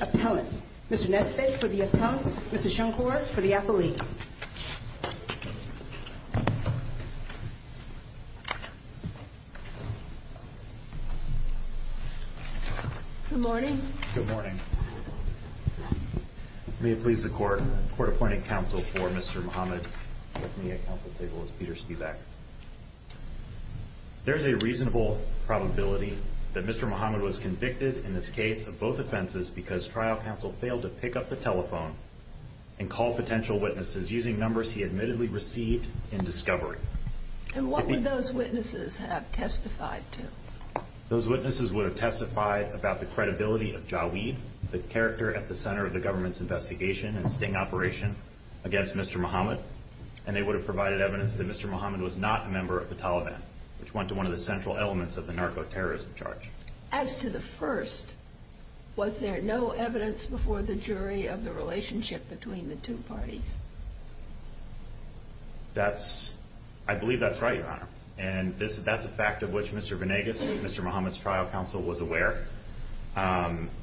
Appellant, Mr. Nesbitt for the Appellant, Mr. Shonkor for the Appellee. Good morning. Good morning. May it please the Court, Court Appointing Counsel for Mr. Mohammed with me at counsel's table is Peter Spivak. There is a reasonable probability that Mr. Mohammed was convicted in this case of both offenses because trial counsel failed to pick up the telephone and call potential witnesses using numbers he admittedly received in discovery. And what would those witnesses have testified to? Those witnesses would have testified about the credibility of Jawid, the character at the center of the government's investigation and sting operation against Mr. Mohammed, and they would have provided evidence that Mr. Mohammed was not a member of the Taliban, which went to one of the central elements of the narco-terrorism charge. As to the first, was there no evidence before the jury of the relationship between the two parties? That's, I believe that's right, Your Honor. And that's a fact of which Mr. Venegas, Mr. Mohammed's trial counsel, was aware,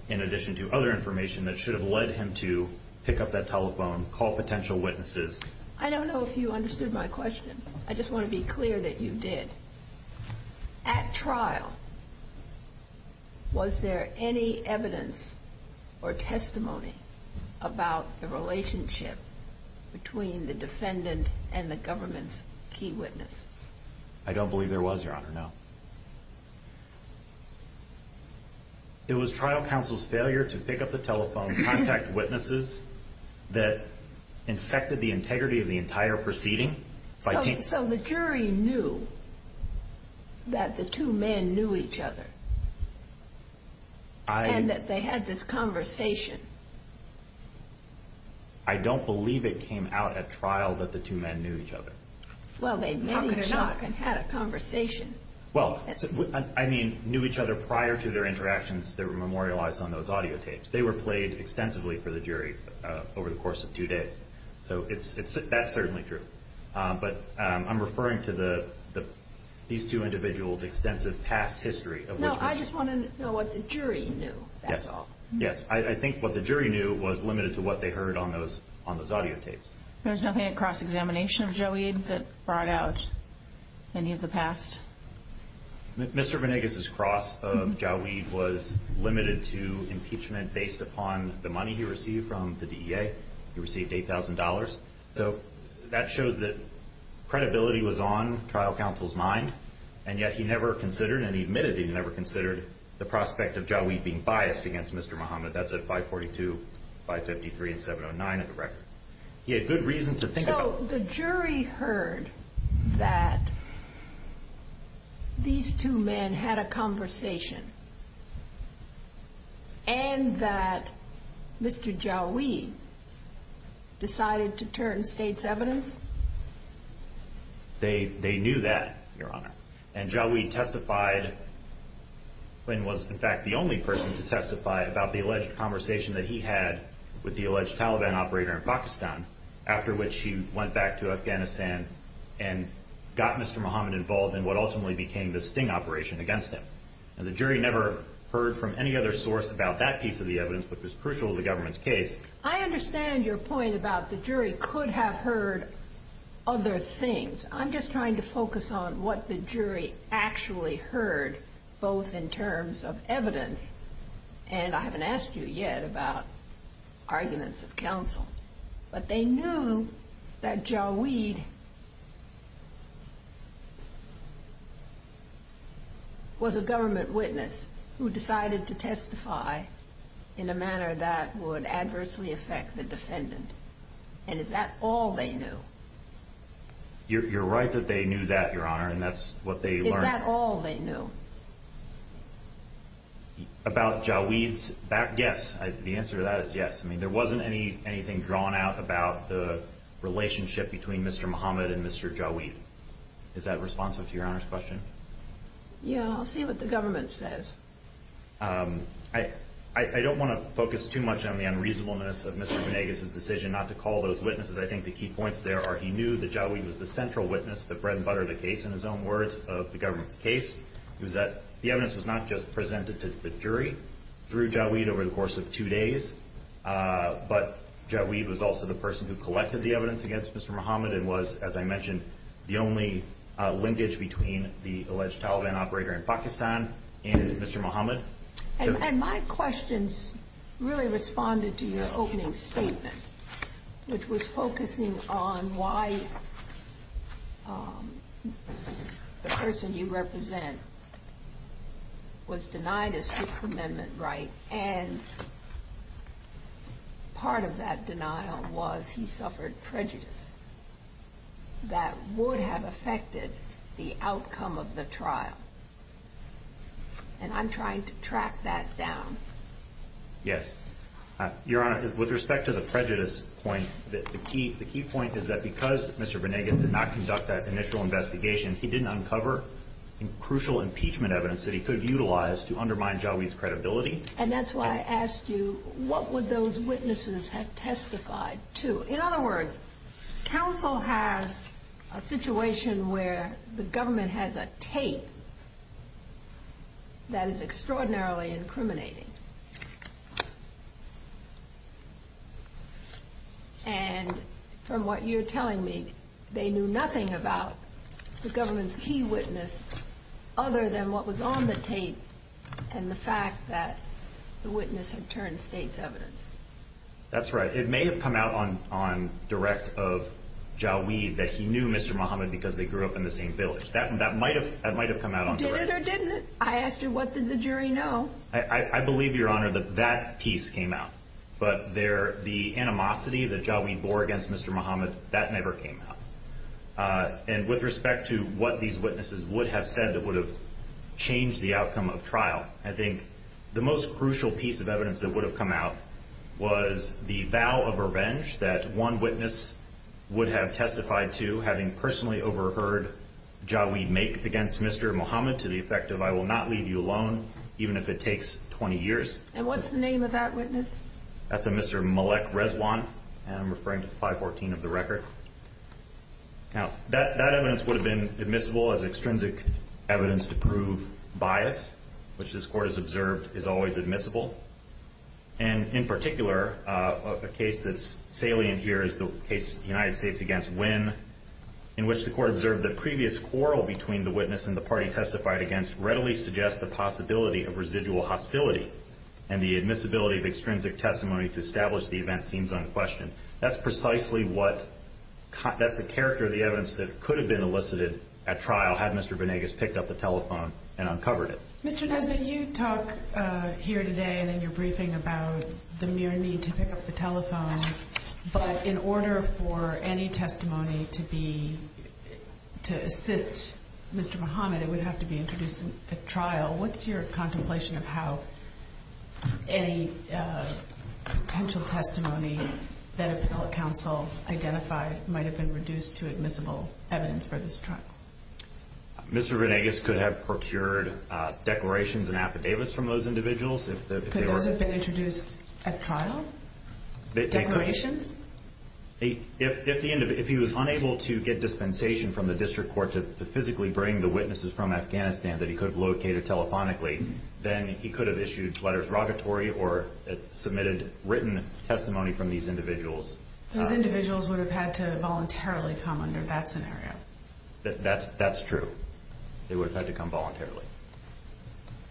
in addition to other information that should have led him to pick up that telephone, call potential witnesses. I don't know if you understood my question. I just want to be clear that you did. At trial, was there any evidence or testimony about the relationship between the defendant and the government's key witness? I don't believe there was, Your Honor, no. It was trial counsel's failure to pick up the telephone, contact witnesses that infected the integrity of the entire proceeding. So the jury knew that the two men knew each other, and that they had this conversation? I don't believe it came out at trial that the two men knew each other. Well, they met each other and had a conversation. Well, I mean, knew each other prior to their interactions that were memorialized on those audio tapes. They were played extensively for the jury over the course of two days. So that's certainly true. But I'm referring to these two individuals' extensive past history. No, I just want to know what the jury knew, that's all. Yes. I think what the jury knew was limited to what they heard on those audio tapes. There was nothing at cross-examination of Joweed that brought out any of the past? Mr. Venegas' cross of Joweed was limited to impeachment based upon the money he received from the DEA. He received $8,000. So that shows that credibility was on trial counsel's mind, and yet he never considered, and he admitted he never considered, the prospect of Joweed being biased against Mr. Muhammad. That's at 542, 553, and 709 in the record. He had good reason to think about it. So the jury heard that these two men had a conversation, and that Mr. Joweed decided to turn state's evidence? They knew that, Your Honor. And Joweed testified, and was in fact the only person to testify about the alleged conversation that he had with the alleged Taliban operator in Pakistan, after which he went back to Afghanistan and got Mr. Muhammad involved in what ultimately became the sting operation against him. And the jury never heard from any other source about that piece of the evidence, which was crucial to the government's case. I understand your point about the jury could have heard other things. I'm just trying to focus on what the jury actually heard, both in terms of evidence, and I haven't asked you yet about arguments of counsel. But they knew that Joweed was a government witness who decided to testify in a manner that would adversely affect the defendant. And is that all they knew? You're right that they knew that, Your Honor, and that's what they learned. Is that all they knew? About Joweed's back? Yes. The answer to that is yes. I mean, there wasn't anything drawn out about the relationship between Mr. Muhammad and Mr. Joweed. Is that responsive to Your Honor's question? Yeah, I'll see what the government says. I don't want to focus too much on the unreasonableness of Mr. Gonnegas' decision not to call those he knew that Joweed was the central witness that bread and buttered the case, in his own words, of the government's case. It was that the evidence was not just presented to the jury through Joweed over the course of two days, but Joweed was also the person who collected the evidence against Mr. Muhammad and was, as I mentioned, the only linkage between the alleged Taliban operator in Pakistan and Mr. Muhammad. And my questions really responded to your opening statement, which was focusing on why the person you represent was denied a Sixth Amendment right, and part of that denial was he suffered prejudice that would have affected the outcome of the trial. And I'm trying to track that down. Yes. Your Honor, with respect to the prejudice point, the key point is that because Mr. Gonnegas did not conduct that initial investigation, he didn't uncover crucial impeachment evidence that he could utilize to undermine Joweed's credibility. And that's why I asked you, what would those witnesses have testified to? In other words, counsel has a situation where the government has a tape that is extraordinarily incriminating. And from what you're telling me, they knew nothing about the government's key witness other than what was on the tape and the fact that the witness had turned state's evidence. That's right. It may have come out on direct of Joweed that he knew Mr. Muhammad because they grew up in the same village. That might have come out on direct. Did it or didn't it? I asked you, what did the jury know? I believe, Your Honor, that that piece came out. But the animosity that Joweed bore against Mr. Muhammad, that never came out. And with respect to what these witnesses would have said that would have changed the outcome of trial, I think the most crucial piece of evidence that would have come out was the vow of revenge that one witness would have testified to having personally overheard Joweed make against Mr. Muhammad to the effect of, I will not leave you alone, even if it takes 20 years. And what's the name of that witness? That's a Mr. Malek Reswan, and I'm referring to 514 of the record. Now, that evidence would have been admissible as extrinsic evidence to prove bias, which this court has observed is always admissible. And in particular, a case that's salient here is the case of the United States against Wynn, in which the court observed the previous quarrel between the witness and the party testified against readily suggests the possibility of residual hostility and the admissibility of extrinsic testimony to establish the event seems unquestioned. That's precisely what, that's the character of the evidence that could have been elicited at trial had Mr. Venegas picked up the telephone and uncovered it. Mr. Nesbitt, you talk here today and in your briefing about the mere need to pick up the telephone, but in order for any testimony to be, to assist Mr. Muhammad, it would have to be introduced at trial. What's your contemplation of how any potential testimony that a public counsel identified might have been reduced to admissible evidence for this trial? Mr. Venegas could have procured declarations and affidavits from those individuals. Could those have been introduced at trial? Declarations? If he was unable to get dispensation from the district court to physically bring the witnesses from Afghanistan that he could have located telephonically, then he could have issued letters of rogatory or submitted written testimony from these individuals. Those individuals would have had to voluntarily come under that scenario. That's true. They would have had to come voluntarily.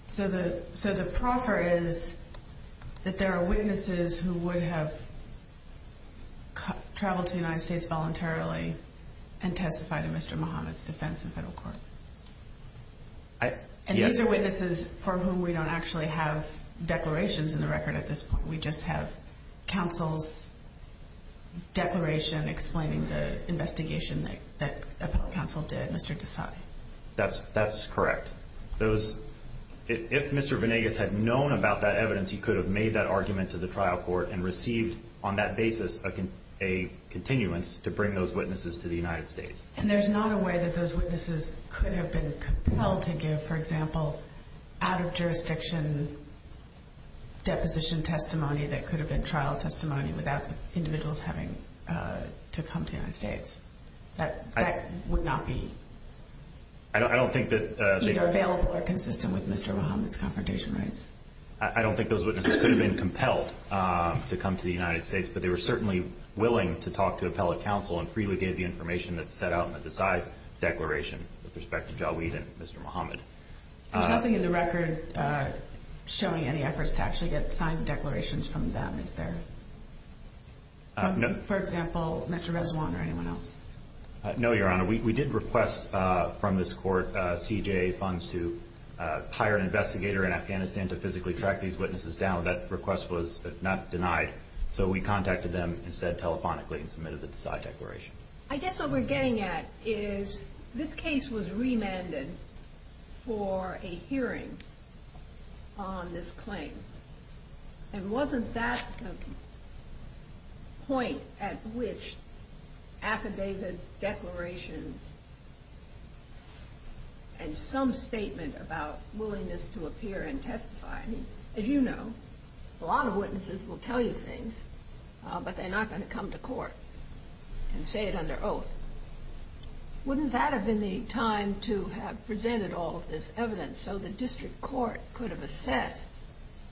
So the proffer is that there are witnesses who would have traveled to the United States voluntarily and testified in Mr. Muhammad's defense in federal court. Yes. And these are witnesses for whom we don't actually have declarations in the record at this point. We just have counsel's declaration explaining the investigation that a public counsel did, Mr. Desai. That's correct. If Mr. Venegas had known about that evidence, he could have made that argument to the trial court and received on that basis a continuance to bring those witnesses to the United States. And there's not a way that those witnesses could have been compelled to give, for example, out of jurisdiction deposition testimony that could have been trial testimony without the individuals having to come to the United States. That would not be either available or consistent with Mr. Muhammad's confrontation rights. I don't think those witnesses could have been compelled to come to the United States. But they were certainly willing to talk to appellate counsel and freely give the information that's set out in the Desai declaration with respect to Jawed and Mr. Muhammad. There's nothing in the record showing any efforts to actually get signed declarations from them, is there? For example, Mr. Rezwan or anyone else? No, Your Honor. We did request from this court, CJA funds, to hire an investigator in Afghanistan to physically track these witnesses down. That request was not denied. So we contacted them instead telephonically and submitted the Desai declaration. I guess what we're getting at is this case was remanded for a hearing on this claim. And wasn't that the point at which affidavits, declarations, and some statement about willingness to appear and testify? As you know, a lot of witnesses will tell you things, but they're not going to come to court and say it under oath. Wouldn't that have been the time to have presented all of this evidence so the district court could have assessed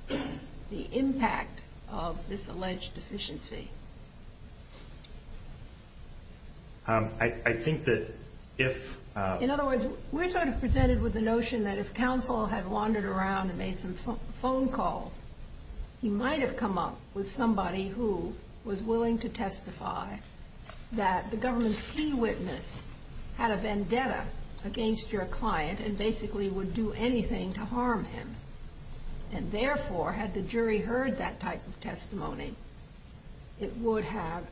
the impact of this alleged deficiency? I think that if... In other words, we're sort of presented with the notion that if counsel had wandered around and made some phone calls, he might have come up with somebody who was willing to testify that the government's key witness had a vendetta against your client and basically would do anything to harm him. And therefore, had the jury heard that type of testimony, it would have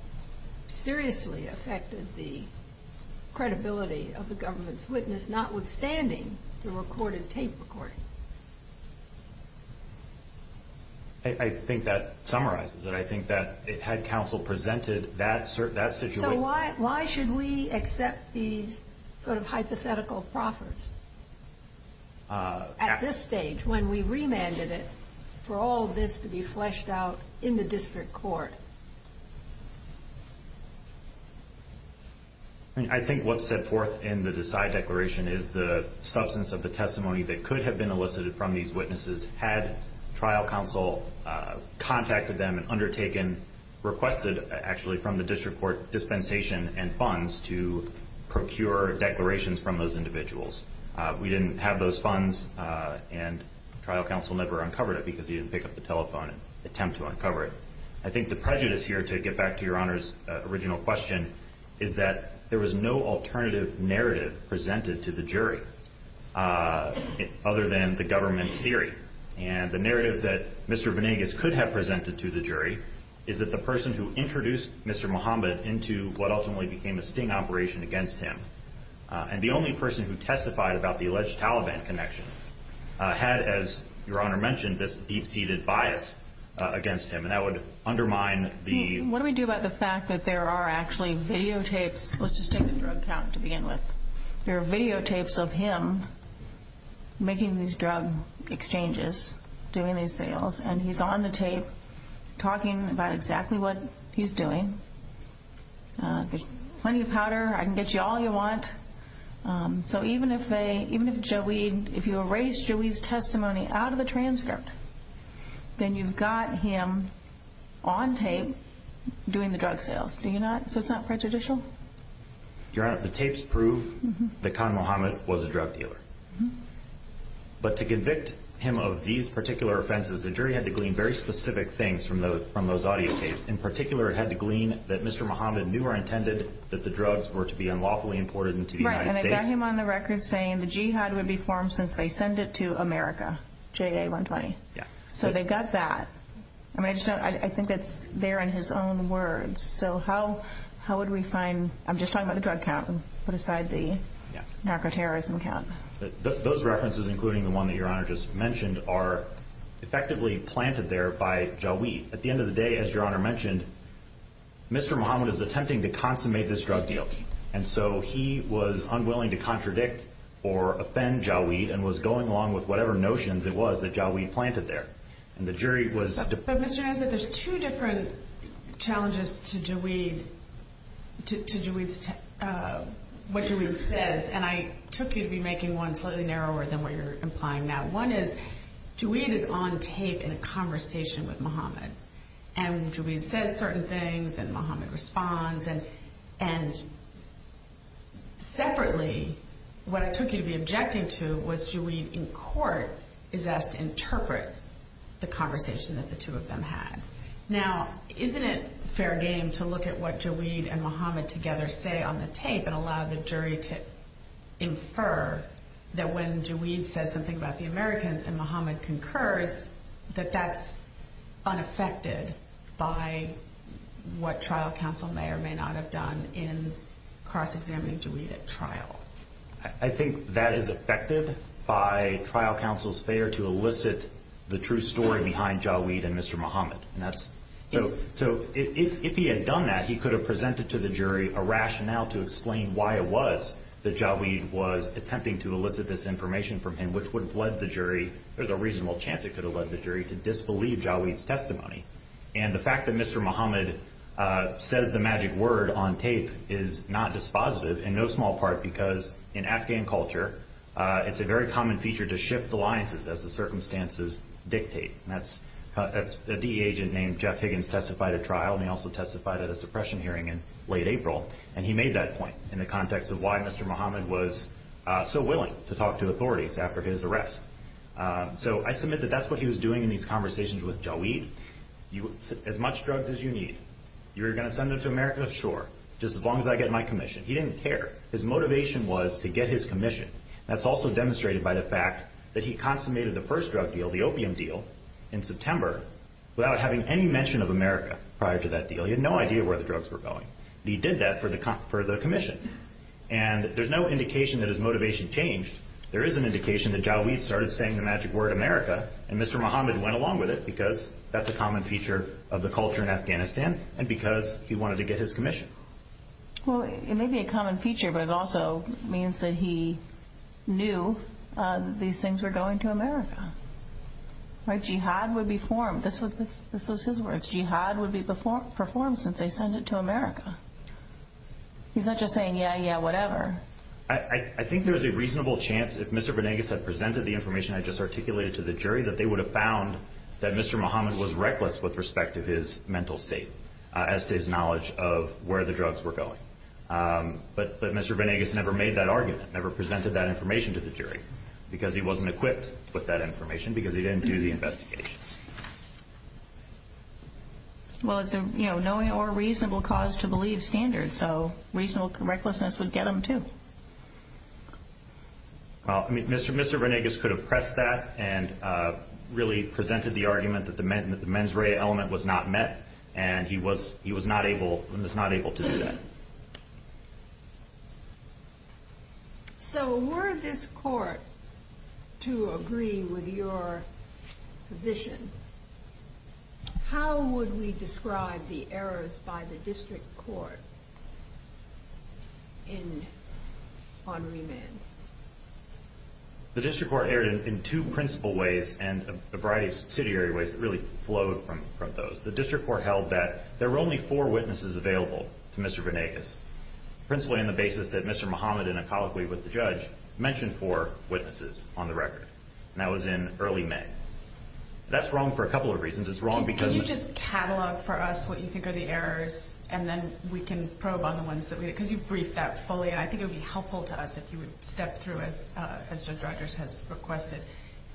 seriously affected the credibility of the government's witness, notwithstanding the recorded tape recording. I think that summarizes it. I think that had counsel presented that situation... So why should we accept these sort of hypothetical proffers at this stage when we remanded it for all of this to be fleshed out in the district court? I mean, I think what's set forth in the Decide Declaration is the substance of the testimony that could have been elicited from these witnesses had trial counsel contacted them and undertaken, requested actually from the district court, dispensation and funds to procure declarations from those individuals. We didn't have those funds and trial counsel never uncovered it because he didn't pick up the telephone and attempt to uncover it. I think the prejudice here, to get back to Your Honor's original question, is that there was no alternative narrative presented to the jury other than the government's theory. And the narrative that Mr. Venegas could have presented to the jury is that the person who introduced Mr. Mohammed into what ultimately became a sting operation against him, and the only person who testified about the alleged Taliban connection, had, as Your Honor mentioned, this deep-seated bias against him. And that would undermine the... What do we do about the fact that there are actually videotapes... Let's just take the drug count to begin with. There are videotapes of him making these drug exchanges, doing these sales, and he's on the tape talking about exactly what he's doing. There's plenty of powder. I can get you all you want. So even if you erase Joey's testimony out of the transcript, then you've got him on tape doing the drug sales. So it's not prejudicial? Your Honor, the tapes prove that Khan Mohammed was a drug dealer. But to convict him of these particular offenses, the jury had to glean very specific things from those audio tapes. In particular, it had to glean that Mr. Mohammed knew or intended that the drugs were to be unlawfully imported into the United States. Right. And I got him on the record saying the jihad would be formed since they send it to America, JA120. So they've got that. I think that's there in his own words. So how would we find... I'm just talking about the drug count. Put aside the narco-terrorism count. Those references, including the one that Your Honor just mentioned, are effectively planted there by Joweed. At the end of the day, as Your Honor mentioned, Mr. Mohammed is attempting to consummate this drug deal. And so he was unwilling to contradict or offend Joweed and was going along with whatever notions it was that Joweed planted there. And the jury was... But Mr. Nesbitt, there's two different challenges to Joweed, to Joweed's... What Joweed says. And I took you to be making one slightly narrower than what you're implying now. One is, Joweed is on tape in a conversation with Mohammed. And Joweed says certain things and Mohammed responds. And separately, what I took you to be objecting to was Joweed in court is asked to interpret the conversation that the two of them had. Now, isn't it fair game to look at what Joweed and Mohammed together say on the tape and allow the jury to infer that when Joweed says something about the Americans and Mohammed concurs, that that's unaffected by what trial counsel may or may not have done in cross-examining Joweed at trial? I think that is affected by trial counsel's failure to elicit the true story behind Joweed and Mr. Mohammed. So if he had done that, he could have presented to the jury a rationale to explain why it was that Joweed was attempting to elicit this information from him, which would have led the jury, there's a reasonable chance it could have led the jury to disbelieve Joweed's testimony. And the fact that Mr. Mohammed says the magic word on tape is not dispositive in no small part because in Afghan culture, it's a very common feature to shift alliances as the circumstances dictate. That's a DE agent named Jeff Higgins testified at trial and he also testified at a suppression hearing in late April. And he made that point in the context of why Mr. Mohammed was not so willing to talk to authorities after his arrest. So I submit that that's what he was doing in these conversations with Joweed. As much drugs as you need, you're going to send them to America? Sure. Just as long as I get my commission. He didn't care. His motivation was to get his commission. That's also demonstrated by the fact that he consummated the first drug deal, the opium deal, in September without having any mention of America prior to that deal. He had no idea where the drugs were going. He did that for the commission. And there's no indication that his motivation changed. There is an indication that Joweed started saying the magic word, America, and Mr. Mohammed went along with it because that's a common feature of the culture in Afghanistan and because he wanted to get his commission. Well, it may be a common feature, but it also means that he knew these things were going to America. Jihad would be formed. This was his words. Jihad would be performed since they sent it to America. He's not just saying, yeah, yeah, whatever. I think there's a reasonable chance if Mr. Venegas had presented the information I just articulated to the jury that they would have found that Mr. Mohammed was reckless with respect to his mental state as to his knowledge of where the drugs were going. But Mr. Venegas never made that argument, never presented that information to the jury because he wasn't equipped with that information because he didn't do the investigation. Well, it's a knowing or reasonable cause to believe standard. So reasonable recklessness would get him too. Mr. Venegas could have pressed that and really presented the argument that the mens rea element was not met, and he was not able to do that. So were this court to agree with your position, how would we describe the errors by the district court on remand? The district court erred in two principal ways and a variety of subsidiary ways that really flowed from those. The district court held that there were only four witnesses available to Mr. Venegas, principally on the basis that Mr. Mohammed, in a colloquy with the judge, mentioned four witnesses on the record, and that was in early May. That's wrong for a couple of reasons. It's wrong because... Can you just catalog for us what you think are the errors, and then we can probe on the ones that we... Because you briefed that fully, and I think it would be helpful to us if you would step through, as Judge Rogers has requested,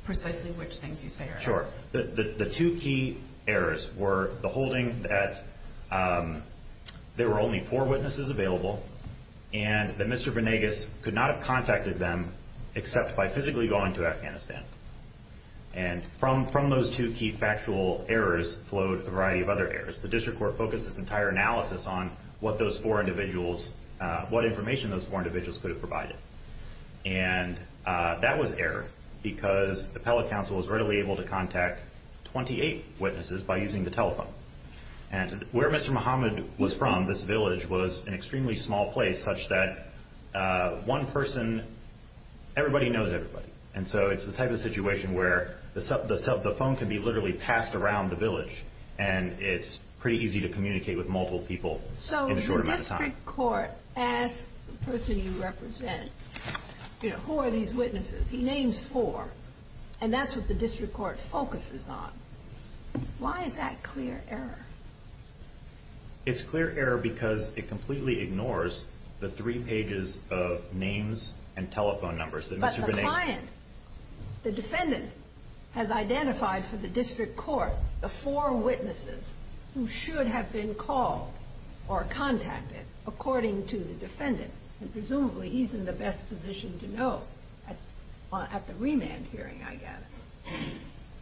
precisely which things you say are errors. Sure. The two key errors were the holding that there were only four witnesses available, and that Mr. Venegas could not have contacted them except by physically going to Afghanistan. And from those two key factual errors flowed a variety of other errors. The district court focused its entire analysis on what those four individuals... What information those four individuals could have provided. And that was error, because the appellate counsel was readily able to contact 28 witnesses by using the telephone. And where Mr. Mohammed was from, this village, was an extremely small place, such that one person... Everybody knows everybody. And so it's the type of situation where the phone can be literally passed around the village, and it's pretty easy to communicate with multiple people in a short amount of time, the person you represent. Who are these witnesses? He names four, and that's what the district court focuses on. Why is that clear error? It's clear error because it completely ignores the three pages of names and telephone numbers that Mr. Venegas... But the client, the defendant, has identified for the district court the four witnesses who should have been called or contacted according to the defendant. And presumably, he's in the best position to know at the remand hearing, I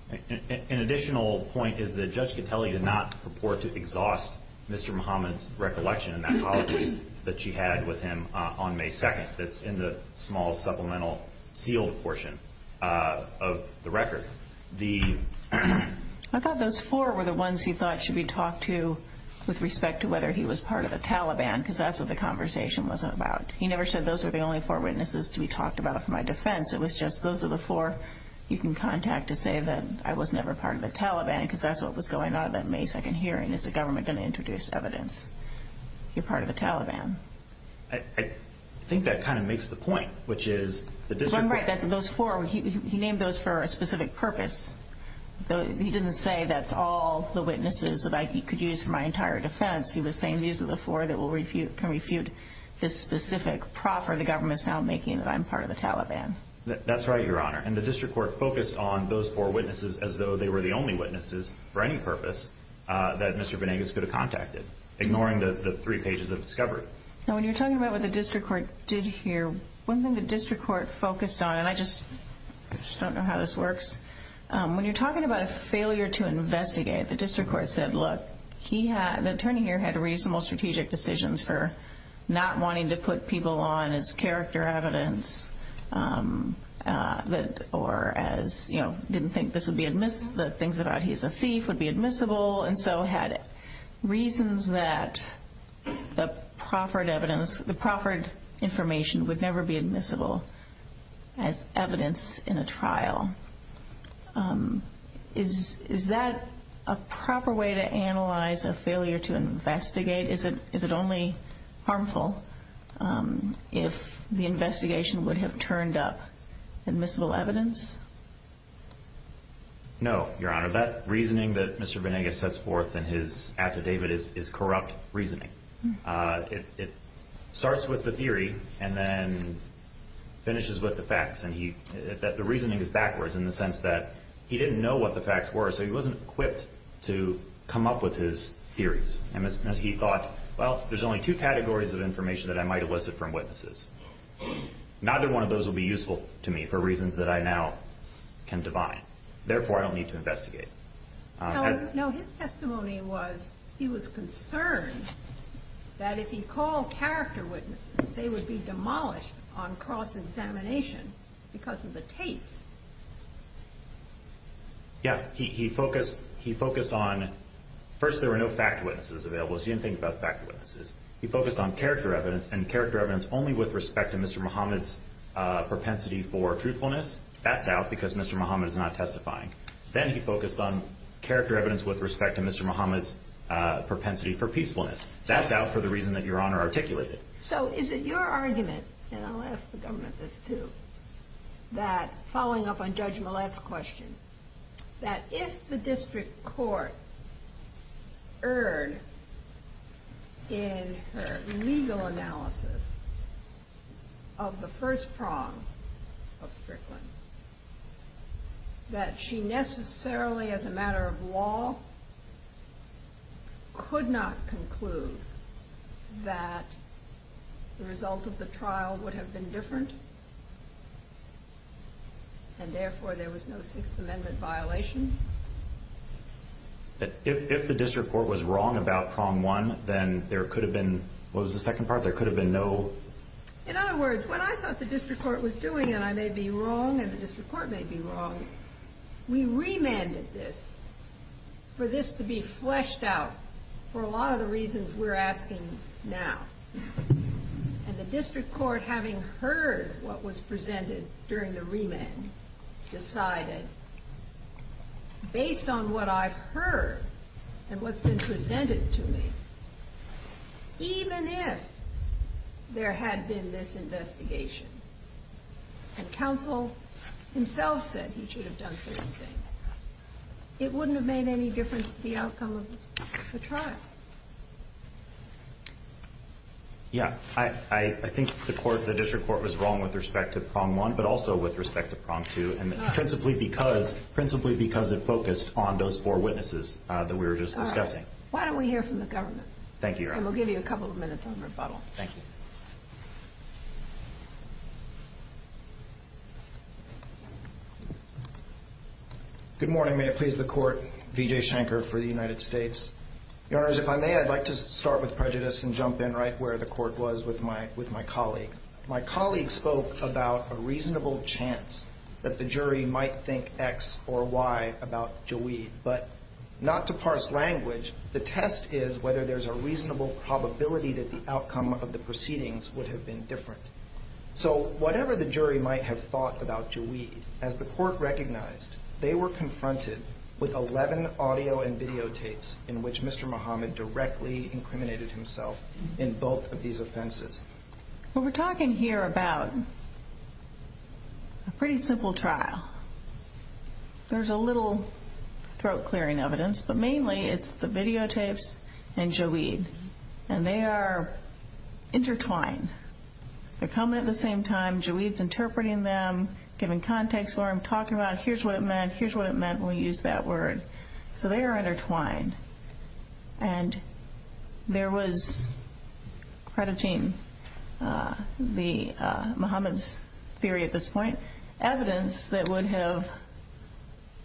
gather. An additional point is that Judge Catelli did not purport to exhaust Mr. Mohammed's recollection and apology that she had with him on May 2nd. That's in the small supplemental sealed portion of the record. I thought those four were the ones he thought should be talked to with respect to whether he was part of the Taliban, because that's what the conversation wasn't about. He never said those are the only four witnesses to be talked about for my defense. It was just those are the four you can contact to say that I was never part of the Taliban, because that's what was going on at that May 2nd hearing. Is the government going to introduce evidence you're part of the Taliban? I think that kind of makes the point, which is the district court... He didn't say that's all the witnesses that I could use for my entire defense. He was saying these are the four that can refute this specific prop for the government's now making that I'm part of the Taliban. That's right, Your Honor. And the district court focused on those four witnesses as though they were the only witnesses for any purpose that Mr. Venegas could have contacted, ignoring the three pages of discovery. Now, when you're talking about what the district court did hear, one thing the district court focused on, and I just don't know how this works, when you're talking about a failure to investigate, the district court said, look, the attorney here had reasonable strategic decisions for not wanting to put people on as character evidence, or as didn't think this would be admissible, the things about he's a thief would be admissible, and so had reasons that the proffered evidence, the proffered information would never be admissible as evidence in a trial. Is that a proper way to analyze a failure to investigate? Is it only harmful if the investigation would have turned up admissible evidence? No, Your Honor. That reasoning that Mr. Venegas sets forth in his affidavit is corrupt reasoning. It starts with the theory and then finishes with the facts. The reasoning is backwards in the sense that he didn't know what the facts were, so he wasn't equipped to come up with his theories. He thought, well, there's only two categories of information that I might elicit from witnesses. Neither one of those will be useful to me for reasons that I now can divine. Therefore, I don't need to investigate. No, his testimony was, he was concerned that if he called character witnesses, they would be demolished on cross-examination because of the tapes. Yeah. He focused on, first, there were no fact witnesses available, so he didn't think about fact witnesses. He focused on character evidence, and character evidence only with respect to Mr. Muhammad's propensity for truthfulness. That's out because Mr. Muhammad is not testifying. Then he focused on character evidence with respect to Mr. Muhammad's propensity for peacefulness. That's out for the reason that Your Honor articulated. So is it your argument, and I'll ask the government this, too, that following up on Judge Millett's question, that if the district court erred in her legal analysis, that it would be a violation of the first prong of Strickland, that she necessarily, as a matter of law, could not conclude that the result of the trial would have been different, and therefore there was no Sixth Amendment violation? If the district court was wrong about prong one, then there could have been, what was I thought the district court was doing, and I may be wrong, and the district court may be wrong, we remanded this for this to be fleshed out for a lot of the reasons we're asking now. And the district court, having heard what was presented during the remand, decided, based on what I've heard and what's been presented to me, even if there had been this investigation, and counsel himself said he should have done certain things, it wouldn't have made any difference to the outcome of the trial. Yeah. I think the court, the district court was wrong with respect to prong one, but also with respect to prong two, and principally because it focused on those four witnesses that we were just discussing. All right. Why don't we hear from the government? Thank you, Your Honor. And we'll give you a couple of minutes on rebuttal. Thank you. Good morning. May it please the Court, V.J. Shanker for the United States. Your Honors, if I may, I'd like to start with prejudice and jump in right where the Court was with my colleague. My colleague spoke about a reasonable chance that the jury might think X or Y about Joweed, but not to parse language, the test is whether there's a reasonable probability that the outcome of the proceedings would have been different. So whatever the jury might have thought about Joweed, as the Court recognized, they were confronted with 11 audio and videotapes in which Mr. Muhammad directly incriminated himself in both of these offenses. Well, we're talking here about a pretty simple trial. There's a little throat-clearing evidence, but mainly it's the videotapes and Joweed. And they are intertwined. They're coming at the same time. Joweed's interpreting them, giving context for them, talking about it. Here's what it meant. Here's what it meant when we used that word. So they are intertwined. And there was, crediting the Muhammad's theory at this point, evidence that would have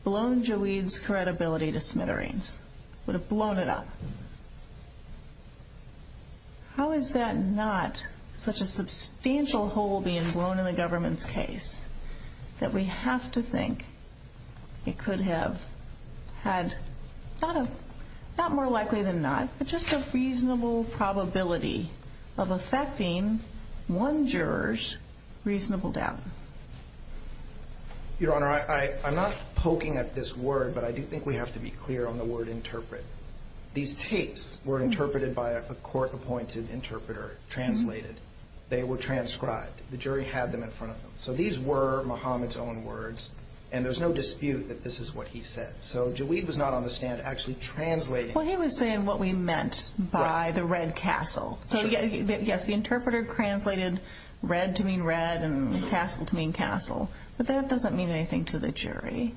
blown Joweed's credibility to smithereens, would have blown it up. How is that not such a substantial hole being blown in the government's case that we have to think it could have had, not more likely than not, but just a reasonable probability of affecting one juror's reasonable doubt? Your Honor, I'm not poking at this word, but I do think we have to be clear on the word interpret. These tapes were interpreted by a court-appointed interpreter, translated. They were transcribed. The jury had them in front of them. So these were Muhammad's own words, and there's no dispute that this is what he said. So Joweed was not on the stand actually translating. Well, he was saying what we meant by the red castle. So yes, the interpreter translated red to mean red, and castle to mean castle. But that doesn't mean anything to the jury.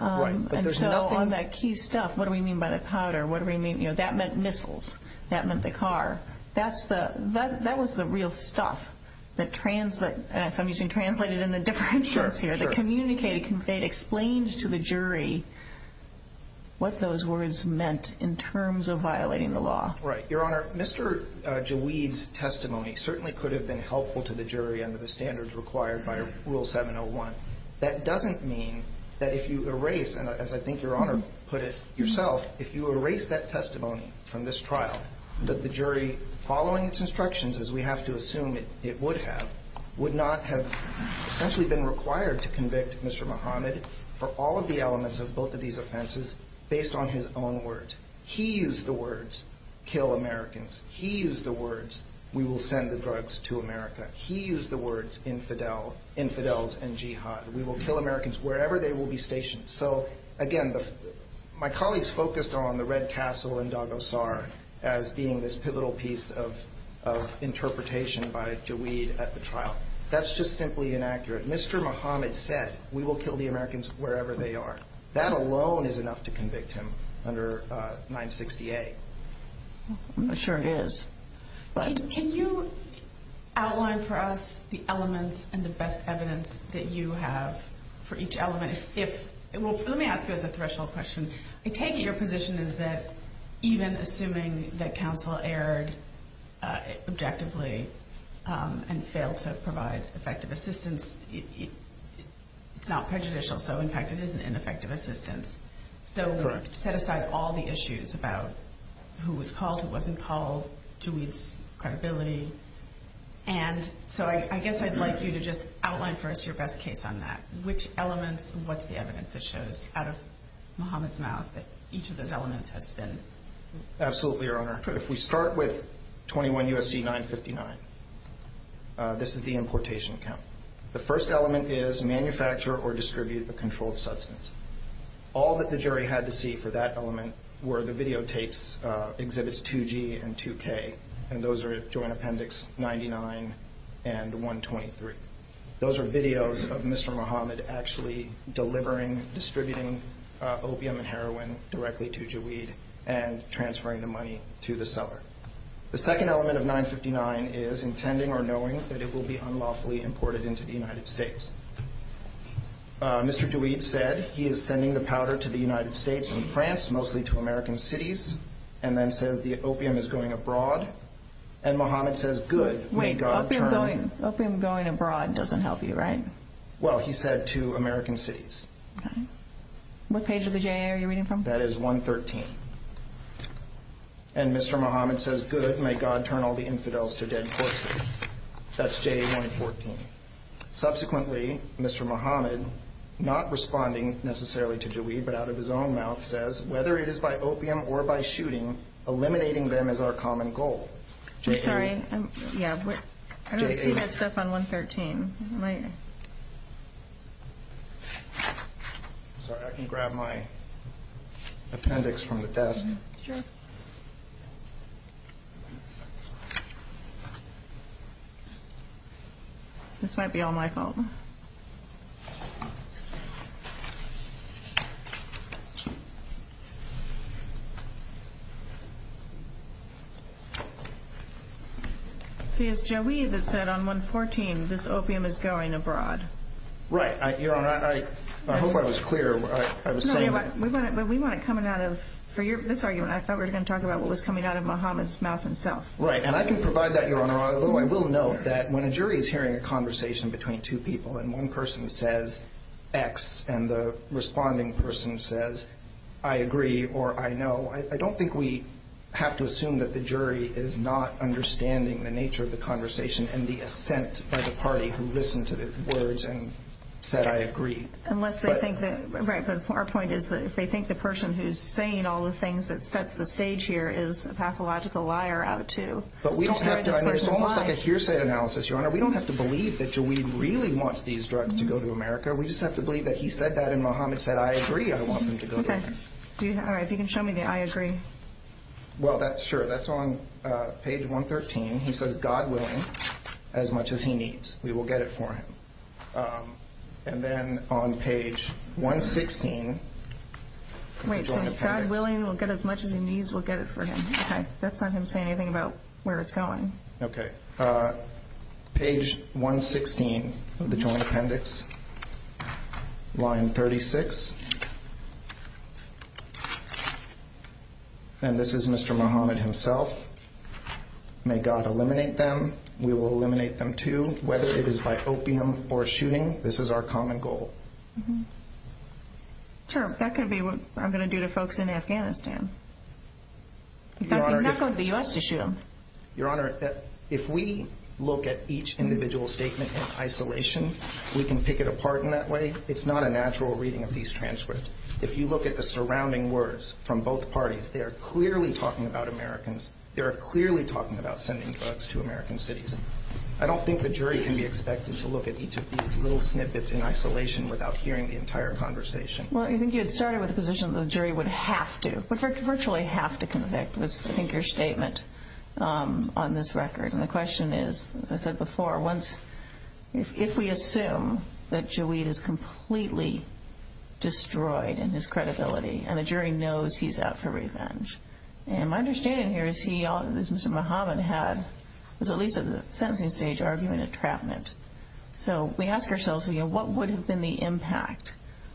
Right, but there's nothing... And so on that key stuff, what do we mean by the powder, what do we mean, you know, that meant missiles. That meant the car. That's the, that was the real stuff that, so I'm using translated in the different words here, that communicated, conveyed, explained to the jury what those words meant in terms of violating the law. Right. Your Honor, Mr. Joweed's testimony certainly could have been helpful to the jury under the standards required by Rule 701. That doesn't mean that if you erase, and as I think Your Honor put it yourself, if you erase that testimony from this trial, that the jury, following its instructions, as we have to assume it would have, would not have essentially been required to convict Mr. Muhammad for all of the elements of both of these offenses based on his own words. He used the words, kill Americans. He used the words, we will send the drugs to America. He used the words, infidel, infidels and jihad. We will kill Americans wherever they will be stationed. So again, my colleagues focused on the red castle in Daghosar as being this pivotal piece of, of interpretation by Joweed at the trial. That's just simply inaccurate. Mr. Muhammad said, we will kill the Americans wherever they are. That alone is enough to convict him under 960A. I'm not sure it is, but. Can you outline for us the elements and the best evidence that you have for each element? Let me ask you as a threshold question. I take it your position is that even assuming that counsel erred objectively and failed to provide effective assistance, it's not an impact, it is an ineffective assistance. So set aside all the issues about who was called, who wasn't called, Joweed's credibility. And so I guess I'd like you to just outline for us your best case on that. Which elements, what's the evidence that shows out of Muhammad's mouth that each of those elements has been. Absolutely, Your Honor. If we start with 21 U.S.C. 959, this is the importation count. The first element is manufacture or distribute a controlled substance. All that the jury had to see for that element were the videotapes, exhibits 2G and 2K, and those are Joint Appendix 99 and 123. Those are videos of Mr. Muhammad actually delivering, distributing opium and heroin directly to Joweed and transferring the money to the seller. The second element of 959 is intending or knowing that it will be unlawfully imported into the United States. Mr. Joweed said he is sending the powder to the United States and France, mostly to American cities, and then says the opium is going abroad. And Muhammad says, good, may God turn. Wait, opium going abroad doesn't help you, right? Well, he said to American cities. What page of the J.A. are you reading from? That is 113. And Mr. Muhammad says, good, may God turn all the infidels to dead horses. That's J.A. 114. Subsequently, Mr. Muhammad, not responding necessarily to Joweed, but out of his own mouth, says, whether it is by opium or by shooting, eliminating them is our common goal. I'm sorry. Yeah, but I don't see that stuff on 113. I'm sorry. I can grab my appendix from the desk. This might be all my fault. See, it's Joweed that said on 114, this opium is illegal. Opium is going abroad. Right. Your Honor, I hope I was clear. I was saying that... No, but we want it coming out of... For this argument, I thought we were going to talk about what was coming out of Muhammad's mouth himself. Right. And I can provide that, Your Honor, although I will note that when a jury is hearing a conversation between two people and one person says X and the responding person says I agree or I know, I don't think we have to assume that the jury is not understanding the nature of the conversation and the assent by the party who listened to the words and said I agree. Unless they think that... Right, but our point is that if they think the person who's saying all the things that sets the stage here is a pathological liar out to... But we don't have to. I mean, it's almost like a hearsay analysis, Your Honor. We don't have to believe that Joweed really wants these drugs to go to America. We just have to believe that he said that and Muhammad said I agree I want them to go to America. All right. If you can show me the I agree. Well, that's sure. That's on page 113. He says God willing, as much as he needs, we will get it for him. And then on page 116... Wait, so God willing, we'll get as much as he needs, we'll get it for him. Okay. That's not him saying anything about where it's going. Okay. Page 116 of the Joint Appendix. Line 36. And this is Mr. Muhammad himself. May God eliminate them. We will eliminate them too, whether it is by opium or shooting. This is our common goal. Sure. That could be what I'm going to do to folks in Afghanistan. He's not going to the U.S. to shoot them. Your Honor, if we look at each individual statement in isolation, we can pick it apart in that way. It's not a natural reading of these transcripts. If you look at the surrounding words from both parties, they are clearly talking about Americans. They are clearly talking about sending drugs to American cities. I don't think the jury can be expected to look at each of these little snippets in isolation without hearing the entire conversation. Well, I think you had started with the position that the jury would have to, would virtually have to convict, was I think your statement on this record. And the question is, as I said before, if we assume that Jawid is completely destroyed in his credibility and the jury knows he's out for revenge. And my understanding here is he, as Mr. Muhammad had, was at least at the sentencing stage arguing a trapment. So we ask ourselves, what would have been the impact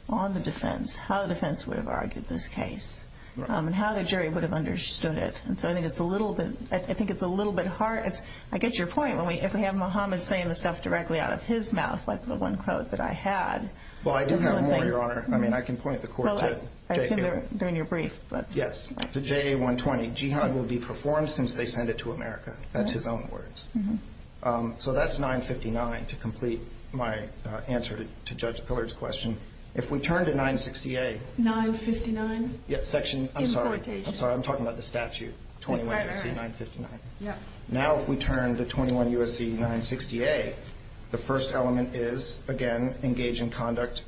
on the defense? How the defense would have argued this case? And how the jury would have understood it? And so I think it's a little bit, I think it's a little bit hard. I get your point. If we have Muhammad saying the stuff directly out of his mouth, like the one quote that I had. Well, I do have more, Your Honor. I mean, I can point the court to J.A. 120. Yes, to J.A. 120. Jihad will be performed since they send it to America. That's his own words. So that's 959 to complete my answer to Judge Pillard's question. If we turn to 960A. 959. Section, I'm sorry. I'm sorry, I'm talking about the statute. 21 U.S.C. 959. Now if we turn to 21 U.S.C. 960A, the first element is, again, engage in conduct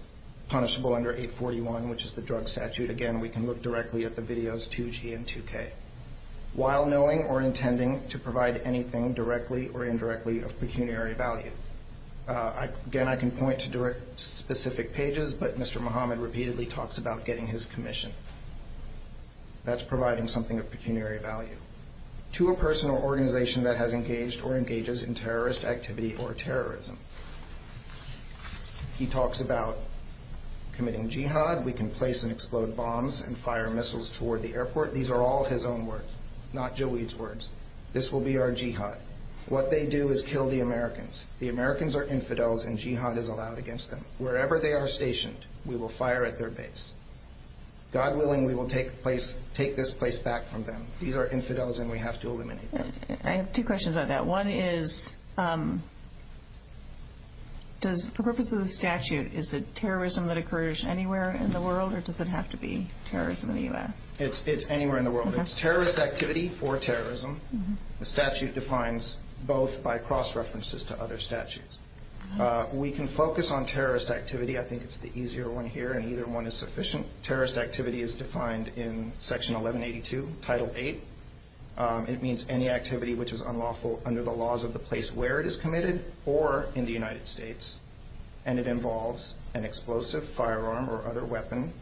punishable under 841, which is the drug statute. Again, we can look directly at the videos 2G and 2K. While knowing or intending to provide anything directly or indirectly of pecuniary value. Again, I can point to direct specific pages, but Mr. Muhammad repeatedly talks about getting his commission. That's providing something of pecuniary value. To a person or organization that has engaged or engages in terrorist activity or terrorism. He talks about committing jihad. We can place and explode bombs and fire missiles toward the airport. These are all his own words, not Joe Weed's words. This will be our jihad. What they do is kill the Americans. The Americans are infidels and jihad is allowed against them. Wherever they are stationed, we will fire at their base. God willing, we will take this place back from them. These are infidels and we have to eliminate them. I have two questions about that. One is, for purposes of the statute, is it terrorism that occurs anywhere in the world or does it have to be terrorism in the U.S.? It's anywhere in the world. It's terrorist activity for terrorism. The statute defines both by cross-references to other statutes. We can focus on terrorist activity. I think it's the easier one here and either one is sufficient. Terrorist activity is defined in Section 1182, Title 8. It means any activity which is unlawful under the laws of the place where it is committed or in the United States. And it involves an explosive, firearm, or other weapon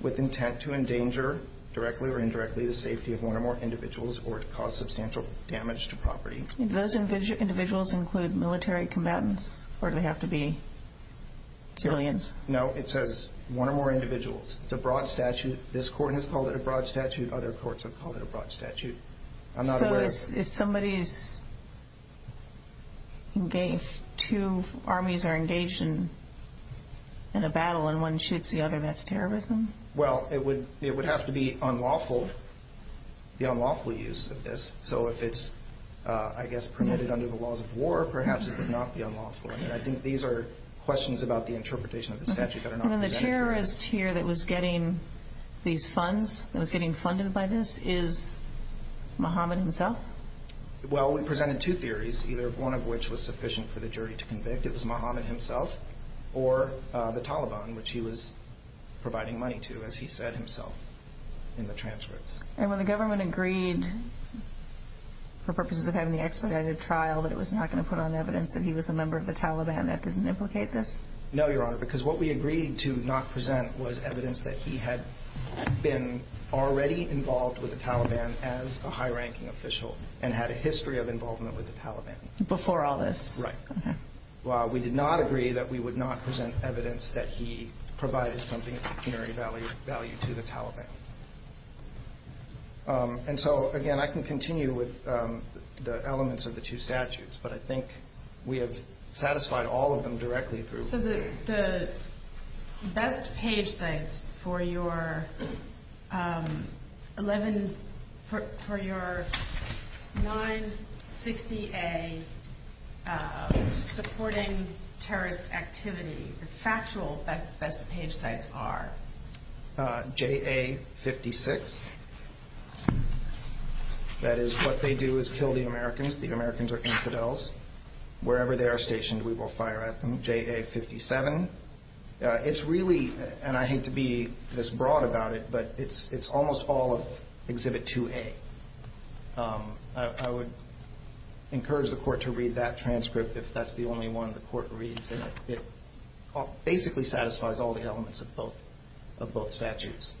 with intent to endanger directly or indirectly the safety of one or more individuals or to cause substantial damage to property. Do those individuals include military combatants or do they have to be civilians? No, it says one or more individuals. It's a broad statute. This court has called it a broad statute. Other courts have called it a broad statute. I'm not aware... So if somebody is engaged, if two armies are engaged in a battle and one shoots the other, that's terrorism? Well, it would have to be unlawful, the unlawful use of this. So if it's, I guess, permitted under the laws of war, perhaps it would not be unlawful. I think these are questions about the interpretation of the statute that are not presented here. And the terrorist here that was getting these funds, that was getting funded by this, is Mohammed himself? Well, we presented two theories, either one of which was sufficient for the jury to convict. It was Mohammed himself or the Taliban, which he was providing money to, as he said himself in the transcripts. And when the government agreed, for purposes of having the expedited trial, that it was not going to put on evidence that he was a member of the Taliban, that didn't implicate this? No, Your Honor, because what we agreed to not present was evidence that he had been already involved with the Taliban as a high-ranking official and had a history of involvement with the Taliban. Before all this? Right. Well, we did not agree that we would not present evidence that he provided something of pecuniary value to the Taliban. And so, again, I can continue with the elements of the two statutes, but I think we have satisfied all of them directly through... So the best page sites for your 960A supporting terrorist activity, the factual best page sites are? JA-56. That is, what they do is kill the Americans. The Americans are infidels. Wherever they are stationed, we will fire at them. JA-57. It's really, and I hate to be this broad about it, but it's almost all of Exhibit 2A. I would encourage the Court to read that transcript if that's the only one the Court reads. It basically satisfies all the elements of both statutes.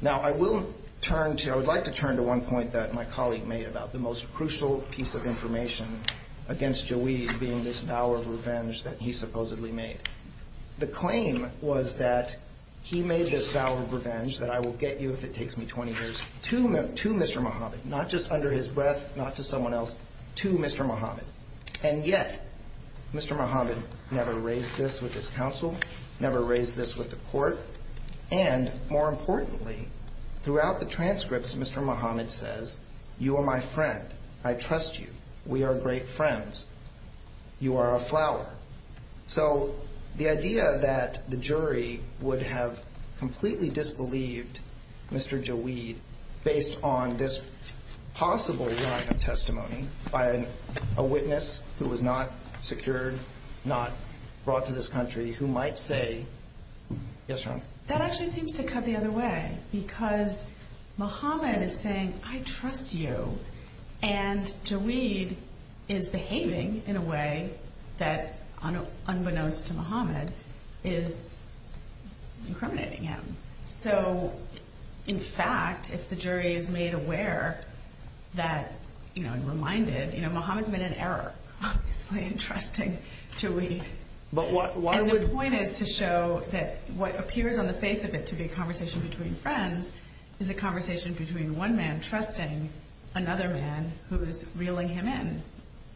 Now, I will turn to, I would like to turn to one point that my colleague made about the most crucial piece of information against Jawid being this vow of revenge that he supposedly made. The claim was that he made this vow of revenge, that I will get you if it takes me 20 years, to Mr. Mohammed, not just under his breath, not to someone else, to Mr. Mohammed. And yet, Mr. Mohammed never raised this with his counsel, never raised this with the Court, and, more importantly, throughout the transcripts, Mr. Mohammed says, you are my friend. I trust you. We are great friends. You are a flower. So, the idea that the jury would have completely disbelieved Mr. Jawid based on this possible line of testimony by a witness who was not secured, not brought to this country, who might say, yes, Your Honor? That actually seems to cut the other way because Mohammed is saying, I trust you, and Jawid is behaving in a way that, unbeknownst to Mohammed, is incriminating him. So, in fact, if the jury is made aware that, you know, and reminded, you know, Mohammed's made an error, obviously, in trusting Jawid. And the point is to show that what appears on the face of it to be a conversation between friends is a conversation between one man trusting another man who's reeling him in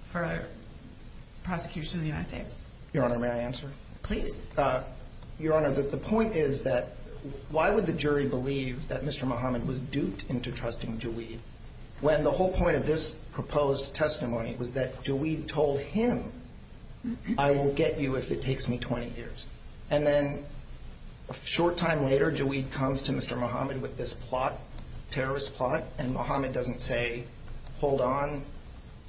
for prosecution in the United States. Your Honor, may I answer? Please. Your Honor, the point is that why would the jury believe that Mr. Mohammed was duped into trusting Jawid when the whole point of this proposed testimony was that Jawid told him, I will get you if it takes me 20 years. And then, a short time later, Jawid comes to Mr. Mohammed with this plot, terrorist plot, and Mohammed doesn't say, hold on,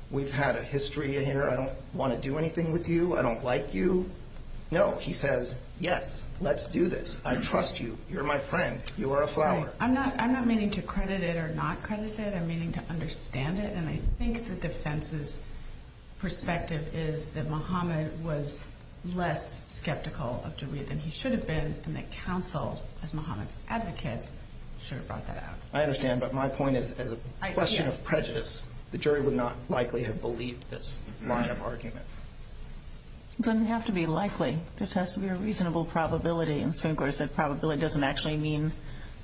we've had a history here, I don't want to do anything with you, I don't like you. No. He says, yes, let's do this. I trust you. You're my friend. You are a flower. I'm not meaning to credit it or not credit it, I'm meaning to understand it, and I think the defense's perspective is that Mohammed was less skeptical of Jawid than he should have been, and that counsel, as Mohammed's advocate, should have brought that out. I understand, but my point is as a question of prejudice, likely have believed this line of argument. It doesn't have to be likely. It just has to be a reasonable probability, and the Supreme Court has said probability doesn't actually mean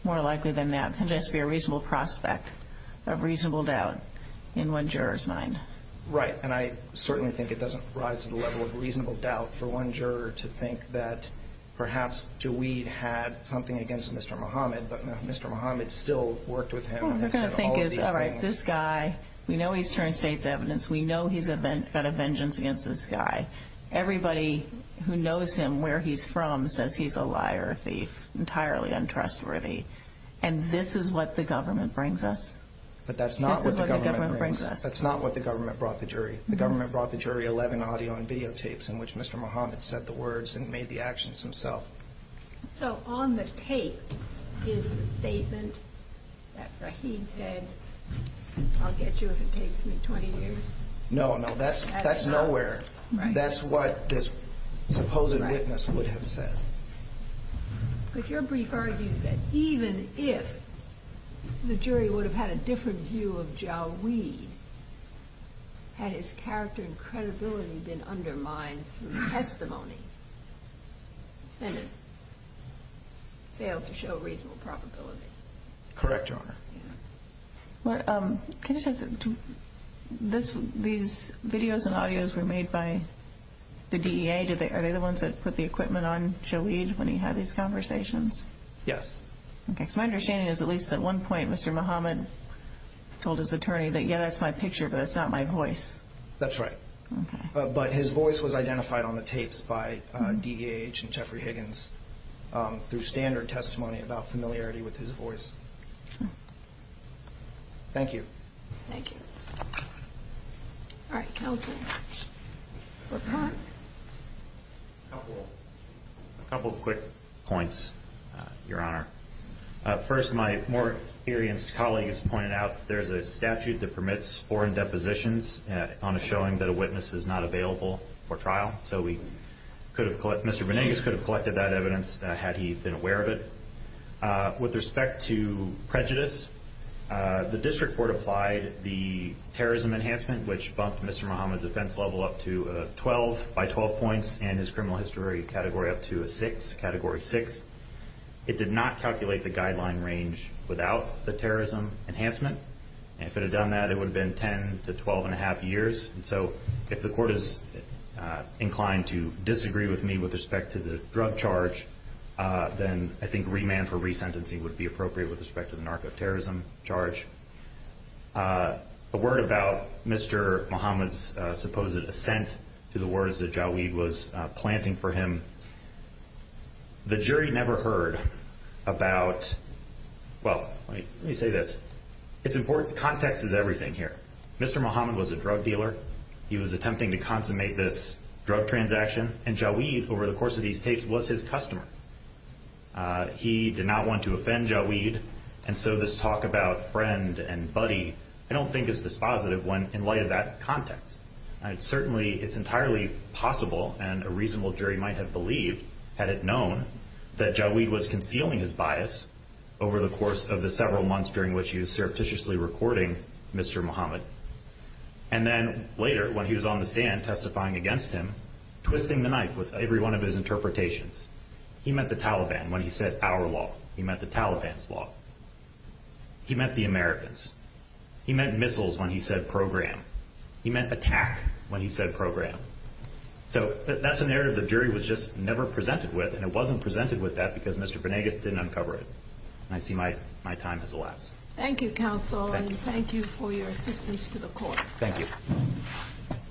more likely than that. It can just be a reasonable prospect of reasonable doubt in one juror's mind. Right, and I certainly think it doesn't rise to the level of reasonable doubt for one juror to think that perhaps Jawid had something against Mr. Mohammed, but Mr. Mohammed still worked with him and said all of these things. What we're going to think is, all right, this guy, we know he's turned state's evidence, we know he's got a vengeance against this guy. Everybody who knows him where he's from says he's a liar, a thief, entirely untrustworthy, and this is what the government brings us. what the government brings us. This is what the government brings us. That's not what the government brought the jury. The government brought the jury 11 audio and videotapes in which Mr. Mohammed said the words and made the actions himself. So on the tape is the statement that Rahim said, I'll get you if it takes me 20 years? No, no, that's nowhere. That's what this supposed witness would have said. But your brief argues that even if the jury would have had a different view of Jal Weed, had his character and credibility been undermined through testimony then it failed to show reasonable probability. Correct, Your Honor. Can I just add something? These videos and audios were made by the DEA? Are they the ones that put the equipment on Jal Weed when he had these conversations? Yes. My understanding is at least at one point Mr. Mohammed told his attorney that yeah that's my picture but that's not my voice. That's right. But his voice was identified on the tapes by DEH and Jeffrey Higgins through standard testimony about familiarity with his voice. Thank you. Thank you. All right, counsel. Laquan? A couple quick points Your Honor. First, my more experienced colleague has pointed out there's a statute that permits foreign depositions on a showing that a witness is not available for trial. So we could have Mr. Benigas could have collected that evidence had he been aware of it. With respect to prejudice the district court applied the terrorism enhancement which bumped Mr. Muhammad's offense level up to 12 by 12 points in his criminal history category up to a 6 category 6 it did not calculate the guideline range without the terrorism enhancement and if it had done that it would have been 10 to 12 and a half years so if the court is inclined to disagree with me with respect to the drug charge then I think remand for resentencing would be appropriate with respect to the narcoterrorism charge a word about Mr. Muhammad's supposed assent to the words that Jawid was planting for him the jury never heard about well let me say this it's important context is everything here Mr. Muhammad was a drug dealer he was attempting to consummate this drug transaction and Jawid over the course of these tapes was his certainly it's entirely possible and a reasonable jury might have believed had it known that Jawid was concealing his bias over the course of the several months during which he was recording Mr. Muhammad and then later when he was on the stand testifying against him twisting the knife with every one of his interpretations he meant the Taliban when he said our law he meant the Taliban's law he meant the Americans he meant missiles when he said program he meant attack when he said program so that's a narrative the jury was just never presented with and it wasn't presented with that because Mr. Venegas didn't uncover it I see my time has elapsed thank you counsel thank you for your assistance to the court thank you